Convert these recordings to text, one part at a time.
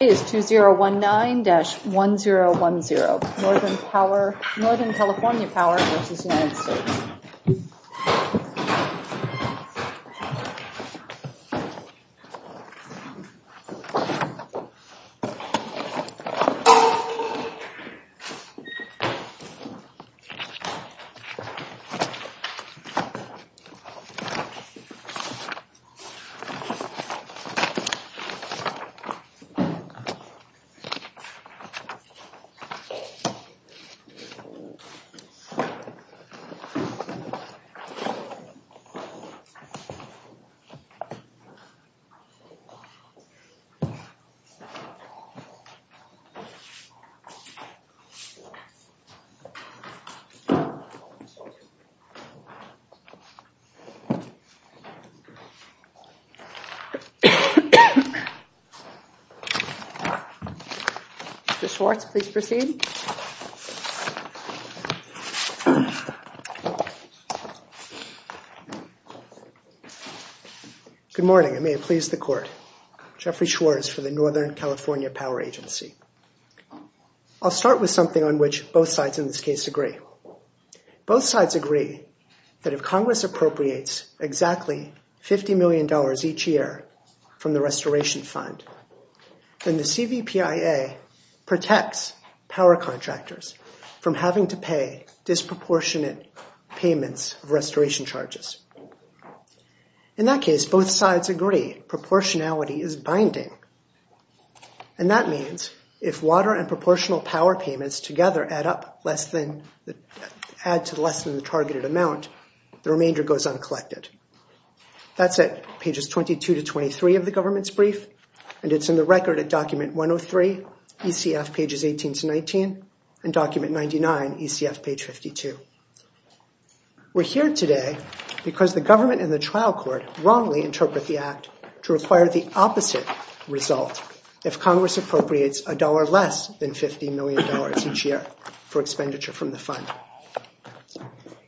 Today is 2019-1010 Northern California Power v. United States Today is 2019-1010 Northern California Power v. United States Mr. Schwartz, please proceed. Good morning, and may it please the Court. Jeffrey Schwartz for the Northern California Power Agency. I'll start with something on which both sides in this case agree. Both sides agree that if Congress appropriates exactly $50 million each year from the Restoration Fund, then the CVPIA protects power contractors from having to pay disproportionate payments of restoration charges. In that case, both sides agree proportionality is binding, and that means if water and proportional power payments together add to less than the targeted amount, the remainder goes uncollected. That's at pages 22 to 23 of the government's brief, and it's in the record at document 103, ECF pages 18 to 19, and document 99, ECF page 52. We're here today because the government and the trial court wrongly interpret the act to require the opposite result if Congress appropriates $1 less than $50 million each year for expenditure from the fund.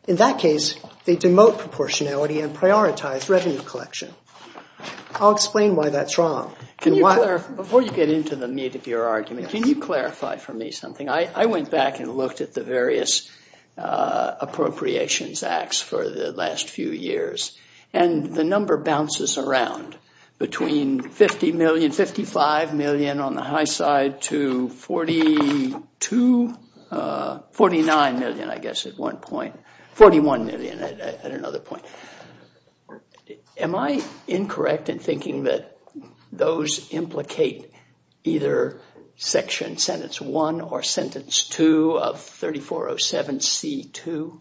In that case, they demote proportionality and prioritize revenue collection. I'll explain why that's wrong. Before you get into the meat of your argument, can you clarify for me something? I went back and looked at the various appropriations acts for the last few years, and the number bounces around between $50 million, $55 million on the high side, to $49 million, I guess, at one point. $41 million at another point. Am I incorrect in thinking that those implicate either section sentence 1 or sentence 2 of 3407C2?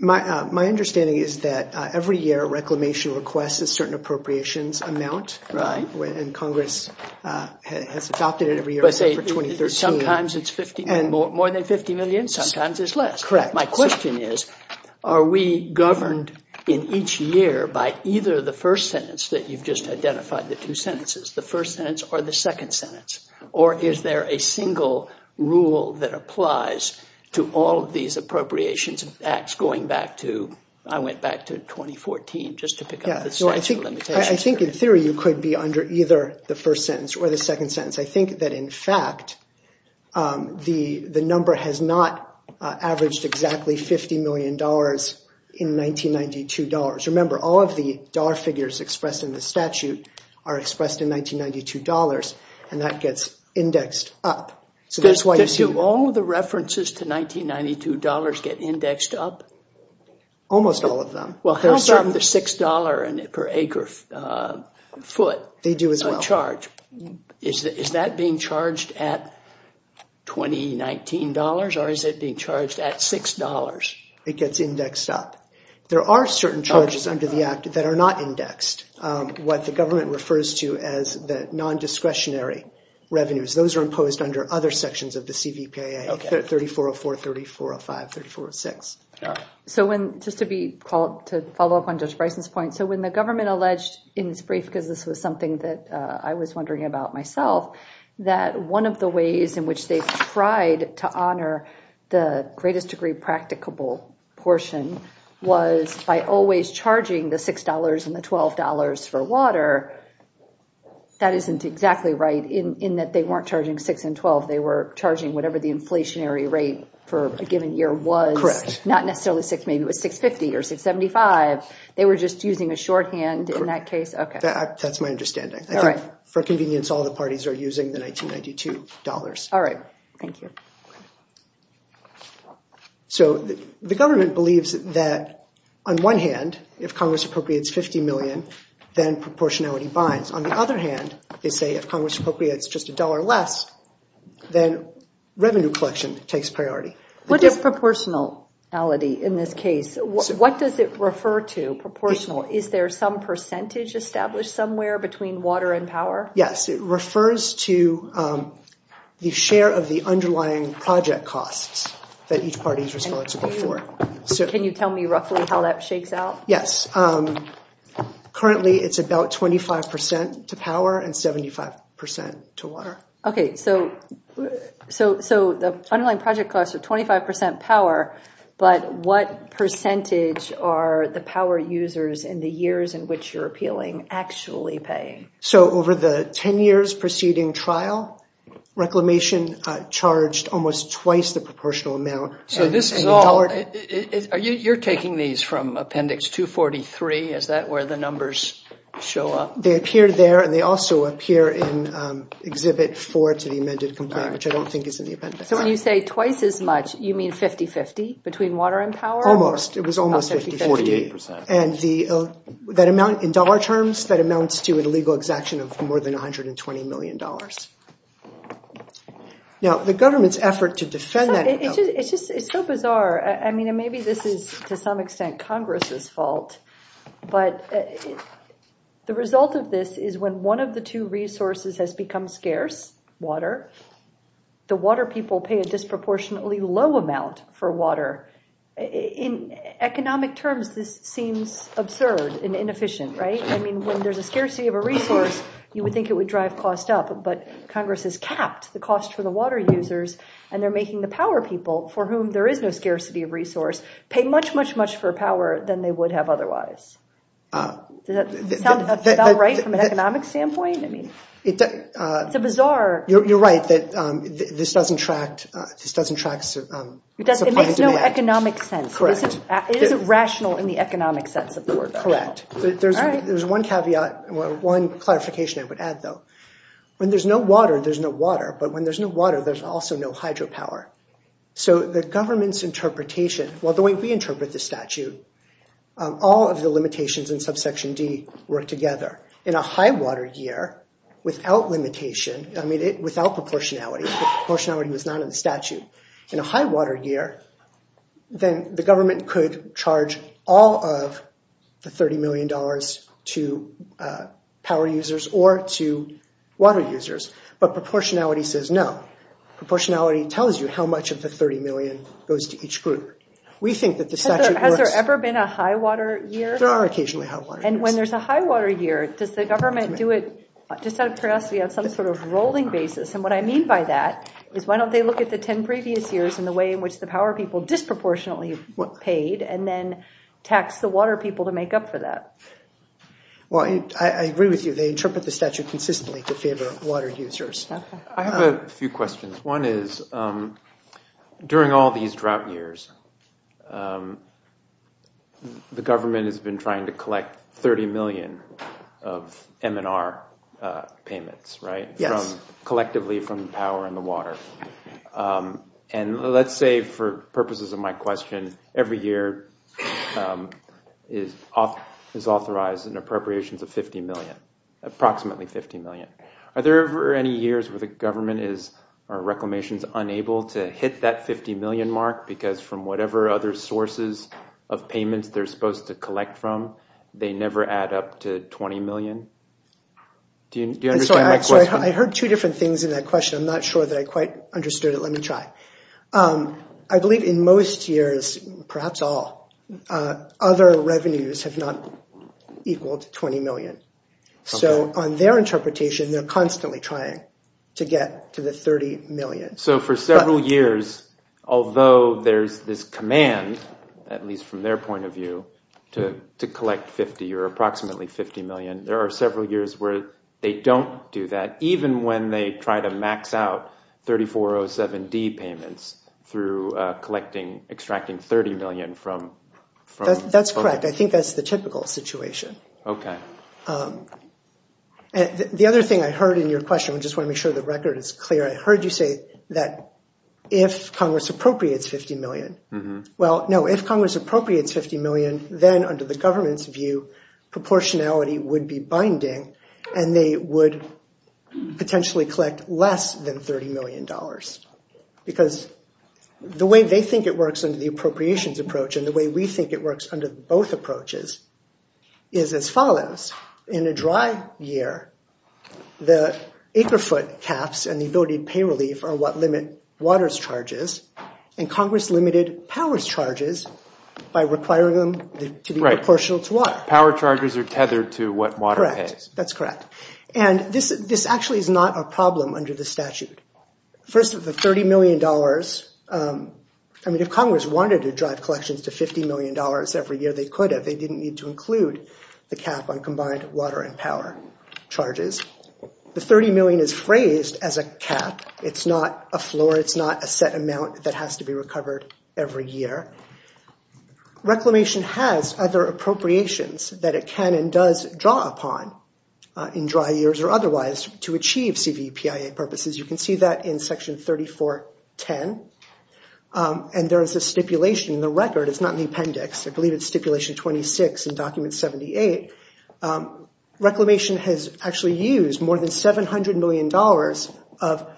My understanding is that every year, reclamation requests a certain appropriations amount, and Congress has adopted it every year except for 2013. Sometimes it's more than $50 million, sometimes it's less. Correct. My question is, are we governed in each year by either the first sentence that you've just identified, the two sentences, the first sentence or the second sentence, or is there a single rule that applies to all of these appropriations acts going back to, I went back to 2014 just to pick up the statute of limitations. I think in theory you could be under either the first sentence or the second sentence. I think that, in fact, the number has not averaged exactly $50 million in 1992 dollars. Remember, all of the dollar figures expressed in the statute are expressed in 1992 dollars, and that gets indexed up. Do all of the references to 1992 dollars get indexed up? Almost all of them. Well, how about the $6 per acre foot? They do as well. Is that being charged at 2019 dollars or is it being charged at $6? It gets indexed up. There are certain charges under the act that are not indexed. What the government refers to as the non-discretionary revenues, those are imposed under other sections of the CVPA, 3404, 3405, 3406. Just to follow up on Judge Bryson's point, when the government alleged in its brief, because this was something that I was wondering about myself, that one of the ways in which they tried to honor the greatest degree practicable portion was by always charging the $6 and the $12 for water. That isn't exactly right in that they weren't charging $6 and $12. They were charging whatever the inflationary rate for a given year was. Correct. Not necessarily $6, maybe it was $6.50 or $6.75. They were just using a shorthand in that case. That's my understanding. For convenience, all the parties are using the 1992 dollars. All right. Thank you. The government believes that, on one hand, if Congress appropriates $50 million, then proportionality binds. On the other hand, they say if Congress appropriates just $1 less, then revenue collection takes priority. What is proportionality in this case? What does it refer to, proportional? Is there some percentage established somewhere between water and power? Yes, it refers to the share of the underlying project costs that each party is responsible for. Can you tell me roughly how that shakes out? Yes. Currently, it's about 25% to power and 75% to water. Okay. The underlying project costs are 25% power, but what percentage are the power users in the years in which you're appealing actually paying? Over the 10 years preceding trial, reclamation charged almost twice the proportional amount. You're taking these from Appendix 243. Is that where the numbers show up? They appear there, and they also appear in Exhibit 4 to the amended complaint, which I don't think is in the appendix. When you say twice as much, you mean 50-50 between water and power? Almost. It was almost 50-50. In dollar terms, that amounts to a legal exaction of more than $120 million. Now, the government's effort to defend that— It's so bizarre. I mean, maybe this is to some extent Congress's fault, but the result of this is when one of the two resources has become scarce, water, the water people pay a disproportionately low amount for water. In economic terms, this seems absurd and inefficient, right? I mean, when there's a scarcity of a resource, you would think it would drive costs up, but Congress has capped the cost for the water users, and they're making the power people, for whom there is no scarcity of resource, pay much, much, much for power than they would have otherwise. Does that sound about right from an economic standpoint? It's a bizarre— You're right that this doesn't track— It makes no economic sense. It isn't rational in the economic sense of the word. Correct. There's one caveat, one clarification I would add, though. When there's no water, there's no water. But when there's no water, there's also no hydropower. So the government's interpretation, well, the way we interpret the statute, all of the limitations in subsection D work together. In a high-water year, without limitation, I mean, without proportionality, proportionality was not in the statute. In a high-water year, then the government could charge all of the $30 million to power users or to water users, but proportionality says no. Proportionality tells you how much of the $30 million goes to each group. We think that the statute works— Has there ever been a high-water year? There are occasionally high-water years. And when there's a high-water year, does the government do it, just out of curiosity, on some sort of rolling basis? And what I mean by that is why don't they look at the 10 previous years and the way in which the power people disproportionately paid and then tax the water people to make up for that? Well, I agree with you. They interpret the statute consistently to favor water users. I have a few questions. One is, during all these drought years, the government has been trying to collect $30 million of M&R payments, right? Yes. Collectively from the power and the water. And let's say, for purposes of my question, every year is authorized an appropriations of $50 million, approximately $50 million. Are there ever any years where the government is, or Reclamation is, unable to hit that $50 million mark because from whatever other sources of payments they're supposed to collect from, they never add up to $20 million? Do you understand my question? Sorry, I heard two different things in that question. I'm not sure that I quite understood it. Let me try. I believe in most years, perhaps all, other revenues have not equaled $20 million. So on their interpretation, they're constantly trying to get to the $30 million. So for several years, although there's this command, at least from their point of view, to collect $50 or approximately $50 million, there are several years where they don't do that, even when they try to max out 3407D payments through extracting $30 million from. That's correct. I think that's the typical situation. Okay. The other thing I heard in your question, I just want to make sure the record is clear, I heard you say that if Congress appropriates $50 million. Well, no, if Congress appropriates $50 million, then under the government's view, proportionality would be binding, and they would potentially collect less than $30 million. Because the way they think it works under the appropriations approach and the way we think it works under both approaches is as follows. In a dry year, the acre foot caps and the ability to pay relief are what limit waters charges, and Congress limited powers charges by requiring them to be proportional to water. Power charges are tethered to what water pays. Correct. That's correct. And this actually is not a problem under the statute. First of the $30 million, I mean, if Congress wanted to drive collections to $50 million every year, they could have. They didn't need to include the cap on combined water and power charges. The $30 million is phrased as a cap. It's not a floor. It's not a set amount that has to be recovered every year. Reclamation has other appropriations that it can and does draw upon in dry years or otherwise to achieve CVPIA purposes. You can see that in Section 3410, and there is a stipulation in the record. It's not in the appendix. I believe it's Stipulation 26 in Document 78. Reclamation has actually used more than $700 million of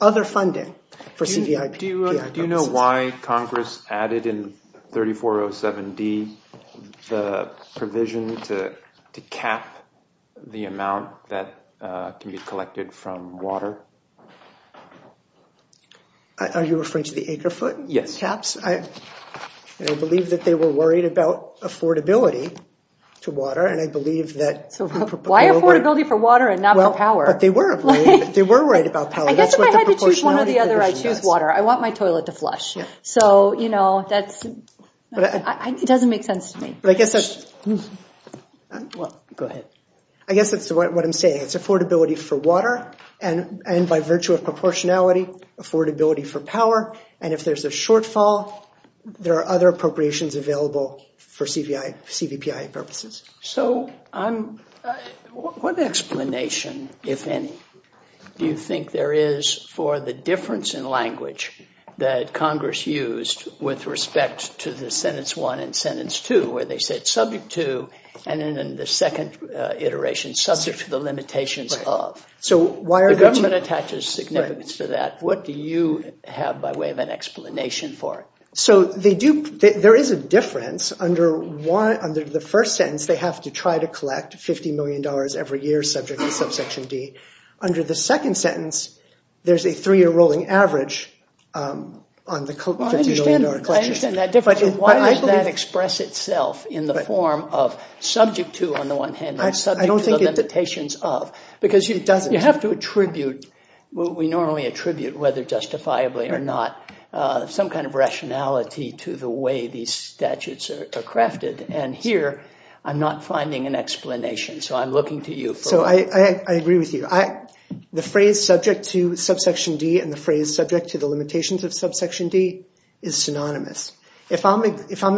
other funding for CVPIA purposes. Do you know why Congress added in 3407D the provision to cap the amount that can be collected from water? Are you referring to the acre foot caps? Yes. I believe that they were worried about affordability to water, Why affordability for water and not for power? They were worried about power. I guess if I had to choose one or the other, I'd choose water. I want my toilet to flush. It doesn't make sense to me. I guess that's what I'm saying. It's affordability for water, and by virtue of proportionality, affordability for power. If there's a shortfall, there are other appropriations available for CVPIA purposes. What explanation, if any, do you think there is for the difference in language that Congress used with respect to the sentence 1 and sentence 2 where they said subject to, and then in the second iteration, subject to the limitations of? The government attaches significance to that. What do you have by way of an explanation for it? There is a difference. Under the first sentence, they have to try to collect $50 million every year subject to subsection D. Under the second sentence, there's a three-year rolling average on the $50 million collection. I understand that difference, but why does that express itself in the form of subject to, on the one hand, and subject to the limitations of? Because you have to attribute what we normally attribute, whether justifiably or not, some kind of rationality to the way these statutes are crafted. Here, I'm not finding an explanation, so I'm looking to you for one. I agree with you. The phrase subject to subsection D and the phrase subject to the limitations of subsection D is synonymous. If I'm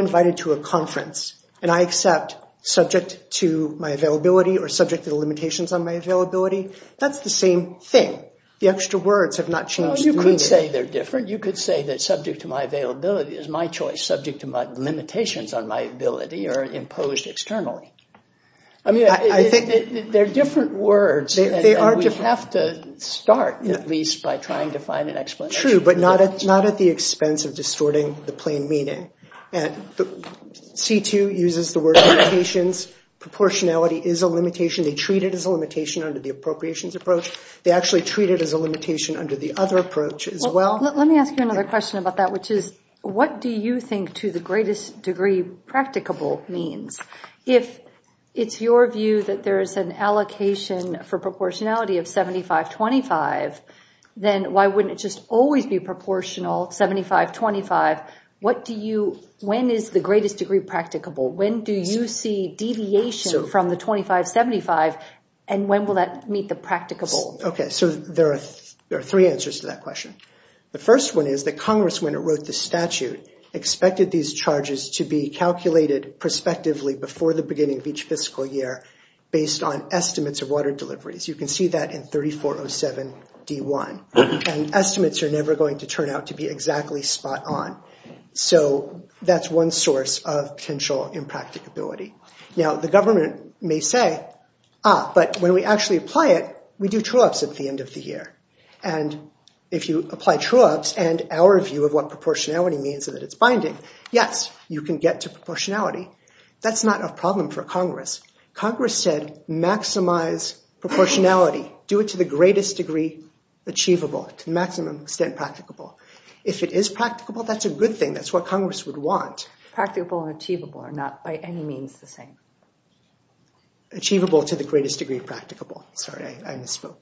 invited to a conference and I accept subject to my availability or subject to the limitations on my availability, that's the same thing. The extra words have not changed. You could say they're different. You could say that subject to my availability is my choice. Subject to my limitations on my ability are imposed externally. They're different words. We have to start, at least, by trying to find an explanation. True, but not at the expense of distorting the plain meaning. C2 uses the word limitations. Proportionality is a limitation. They treat it as a limitation under the appropriations approach. They actually treat it as a limitation under the other approach as well. Let me ask you another question about that, which is, what do you think to the greatest degree practicable means? If it's your view that there is an allocation for proportionality of 75-25, then why wouldn't it just always be proportional 75-25? When is the greatest degree practicable? When do you see deviation from the 25-75, and when will that meet the practicable? There are three answers to that question. The first one is that Congress, when it wrote the statute, expected these charges to be calculated prospectively before the beginning of each fiscal year based on estimates of water deliveries. You can see that in 3407 D1. Estimates are never going to turn out to be exactly spot on. That's one source of potential impracticability. The government may say, Ah, but when we actually apply it, we do true-ups at the end of the year. And if you apply true-ups and our view of what proportionality means and that it's binding, yes, you can get to proportionality. That's not a problem for Congress. Congress said maximize proportionality. Do it to the greatest degree achievable, to the maximum extent practicable. If it is practicable, that's a good thing. That's what Congress would want. Practicable and achievable are not by any means the same. Achievable to the greatest degree practicable. Sorry, I misspoke.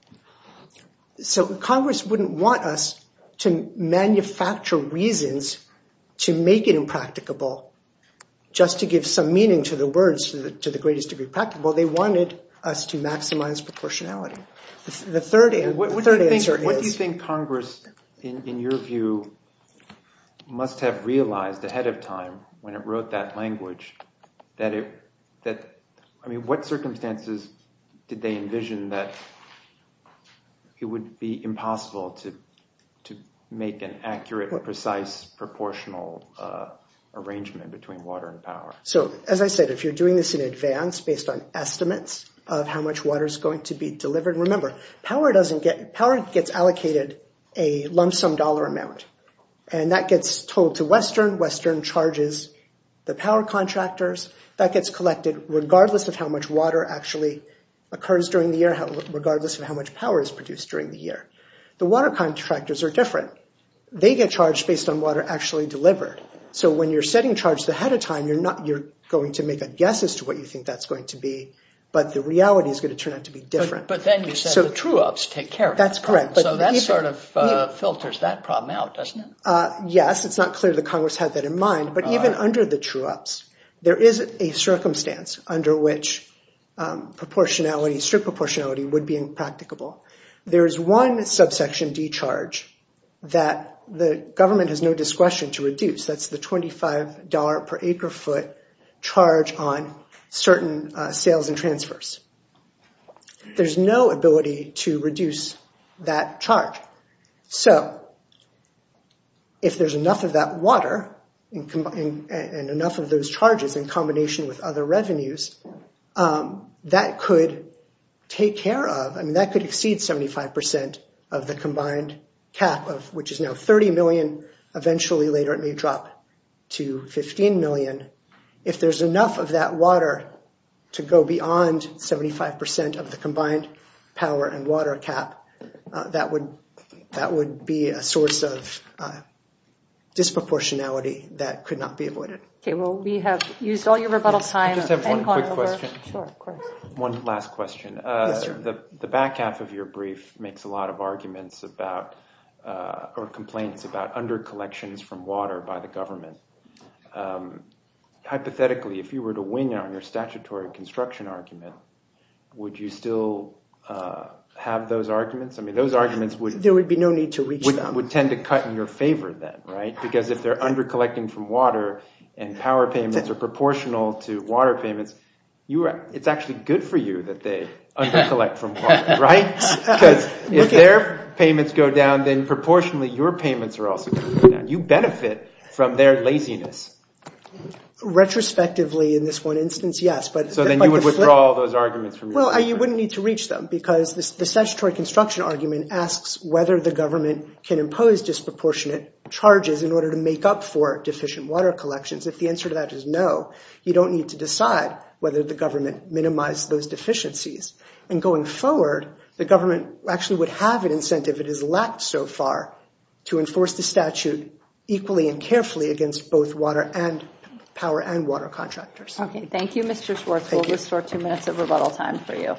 So Congress wouldn't want us to manufacture reasons to make it impracticable just to give some meaning to the words to the greatest degree practicable. They wanted us to maximize proportionality. The third answer is... What do you think Congress, in your view, must have realized ahead of time when it wrote that language that, I mean, what circumstances did they envision that it would be impossible to make an accurate, precise, proportional arrangement between water and power? So, as I said, if you're doing this in advance based on estimates of how much water is going to be delivered, remember, power doesn't get... Power gets allocated a lump-sum dollar amount. And that gets told to Western. Western charges the power contractors. That gets collected regardless of how much water actually occurs during the year, regardless of how much power is produced during the year. The water contractors are different. They get charged based on water actually delivered. So when you're setting charges ahead of time, you're going to make a guess as to what you think that's going to be, but the reality is going to turn out to be different. But then you said the true-ups take care of it. That's correct. So that sort of filters that problem out, doesn't it? Yes, it's not clear that Congress had that in mind, but even under the true-ups, there is a circumstance under which proportionality, strict proportionality, would be impracticable. There is one subsection D charge that the government has no discretion to reduce. That's the $25 per acre-foot charge on certain sales and transfers. There's no ability to reduce that charge. So if there's enough of that water and enough of those charges in combination with other revenues, that could take care of, I mean, that could exceed 75% of the combined cap, which is now $30 million. Eventually later it may drop to $15 million. If there's enough of that water to go beyond 75% of the combined power and water cap, that would be a source of disproportionality that could not be avoided. Okay, well, we have used all your rebuttal time. I just have one quick question. Sure, of course. One last question. Yes, sir. The back half of your brief makes a lot of arguments about, or complaints about, under-collections from water by the government. Hypothetically, if you were to wing on your statutory construction argument, would you still have those arguments? I mean, those arguments would... There would be no need to reach them. Would tend to cut in your favor then, right? Because if they're under-collecting from water and power payments are proportional to water payments, it's actually good for you that they under-collect from water, right? Because if their payments go down, then proportionally your payments are also going to go down. You benefit from their laziness. Retrospectively, in this one instance, yes. So then you would withdraw those arguments from your... Well, you wouldn't need to reach them because the statutory construction argument asks whether the government can impose disproportionate charges in order to make up for deficient water collections. If the answer to that is no, you don't need to decide whether the government minimized those deficiencies. And going forward, the government actually would have an incentive, it has lacked so far, to enforce the statute equally and carefully against both power and water contractors. Okay. Thank you, Mr. Schwartz. We'll restore two minutes of rebuttal time for you.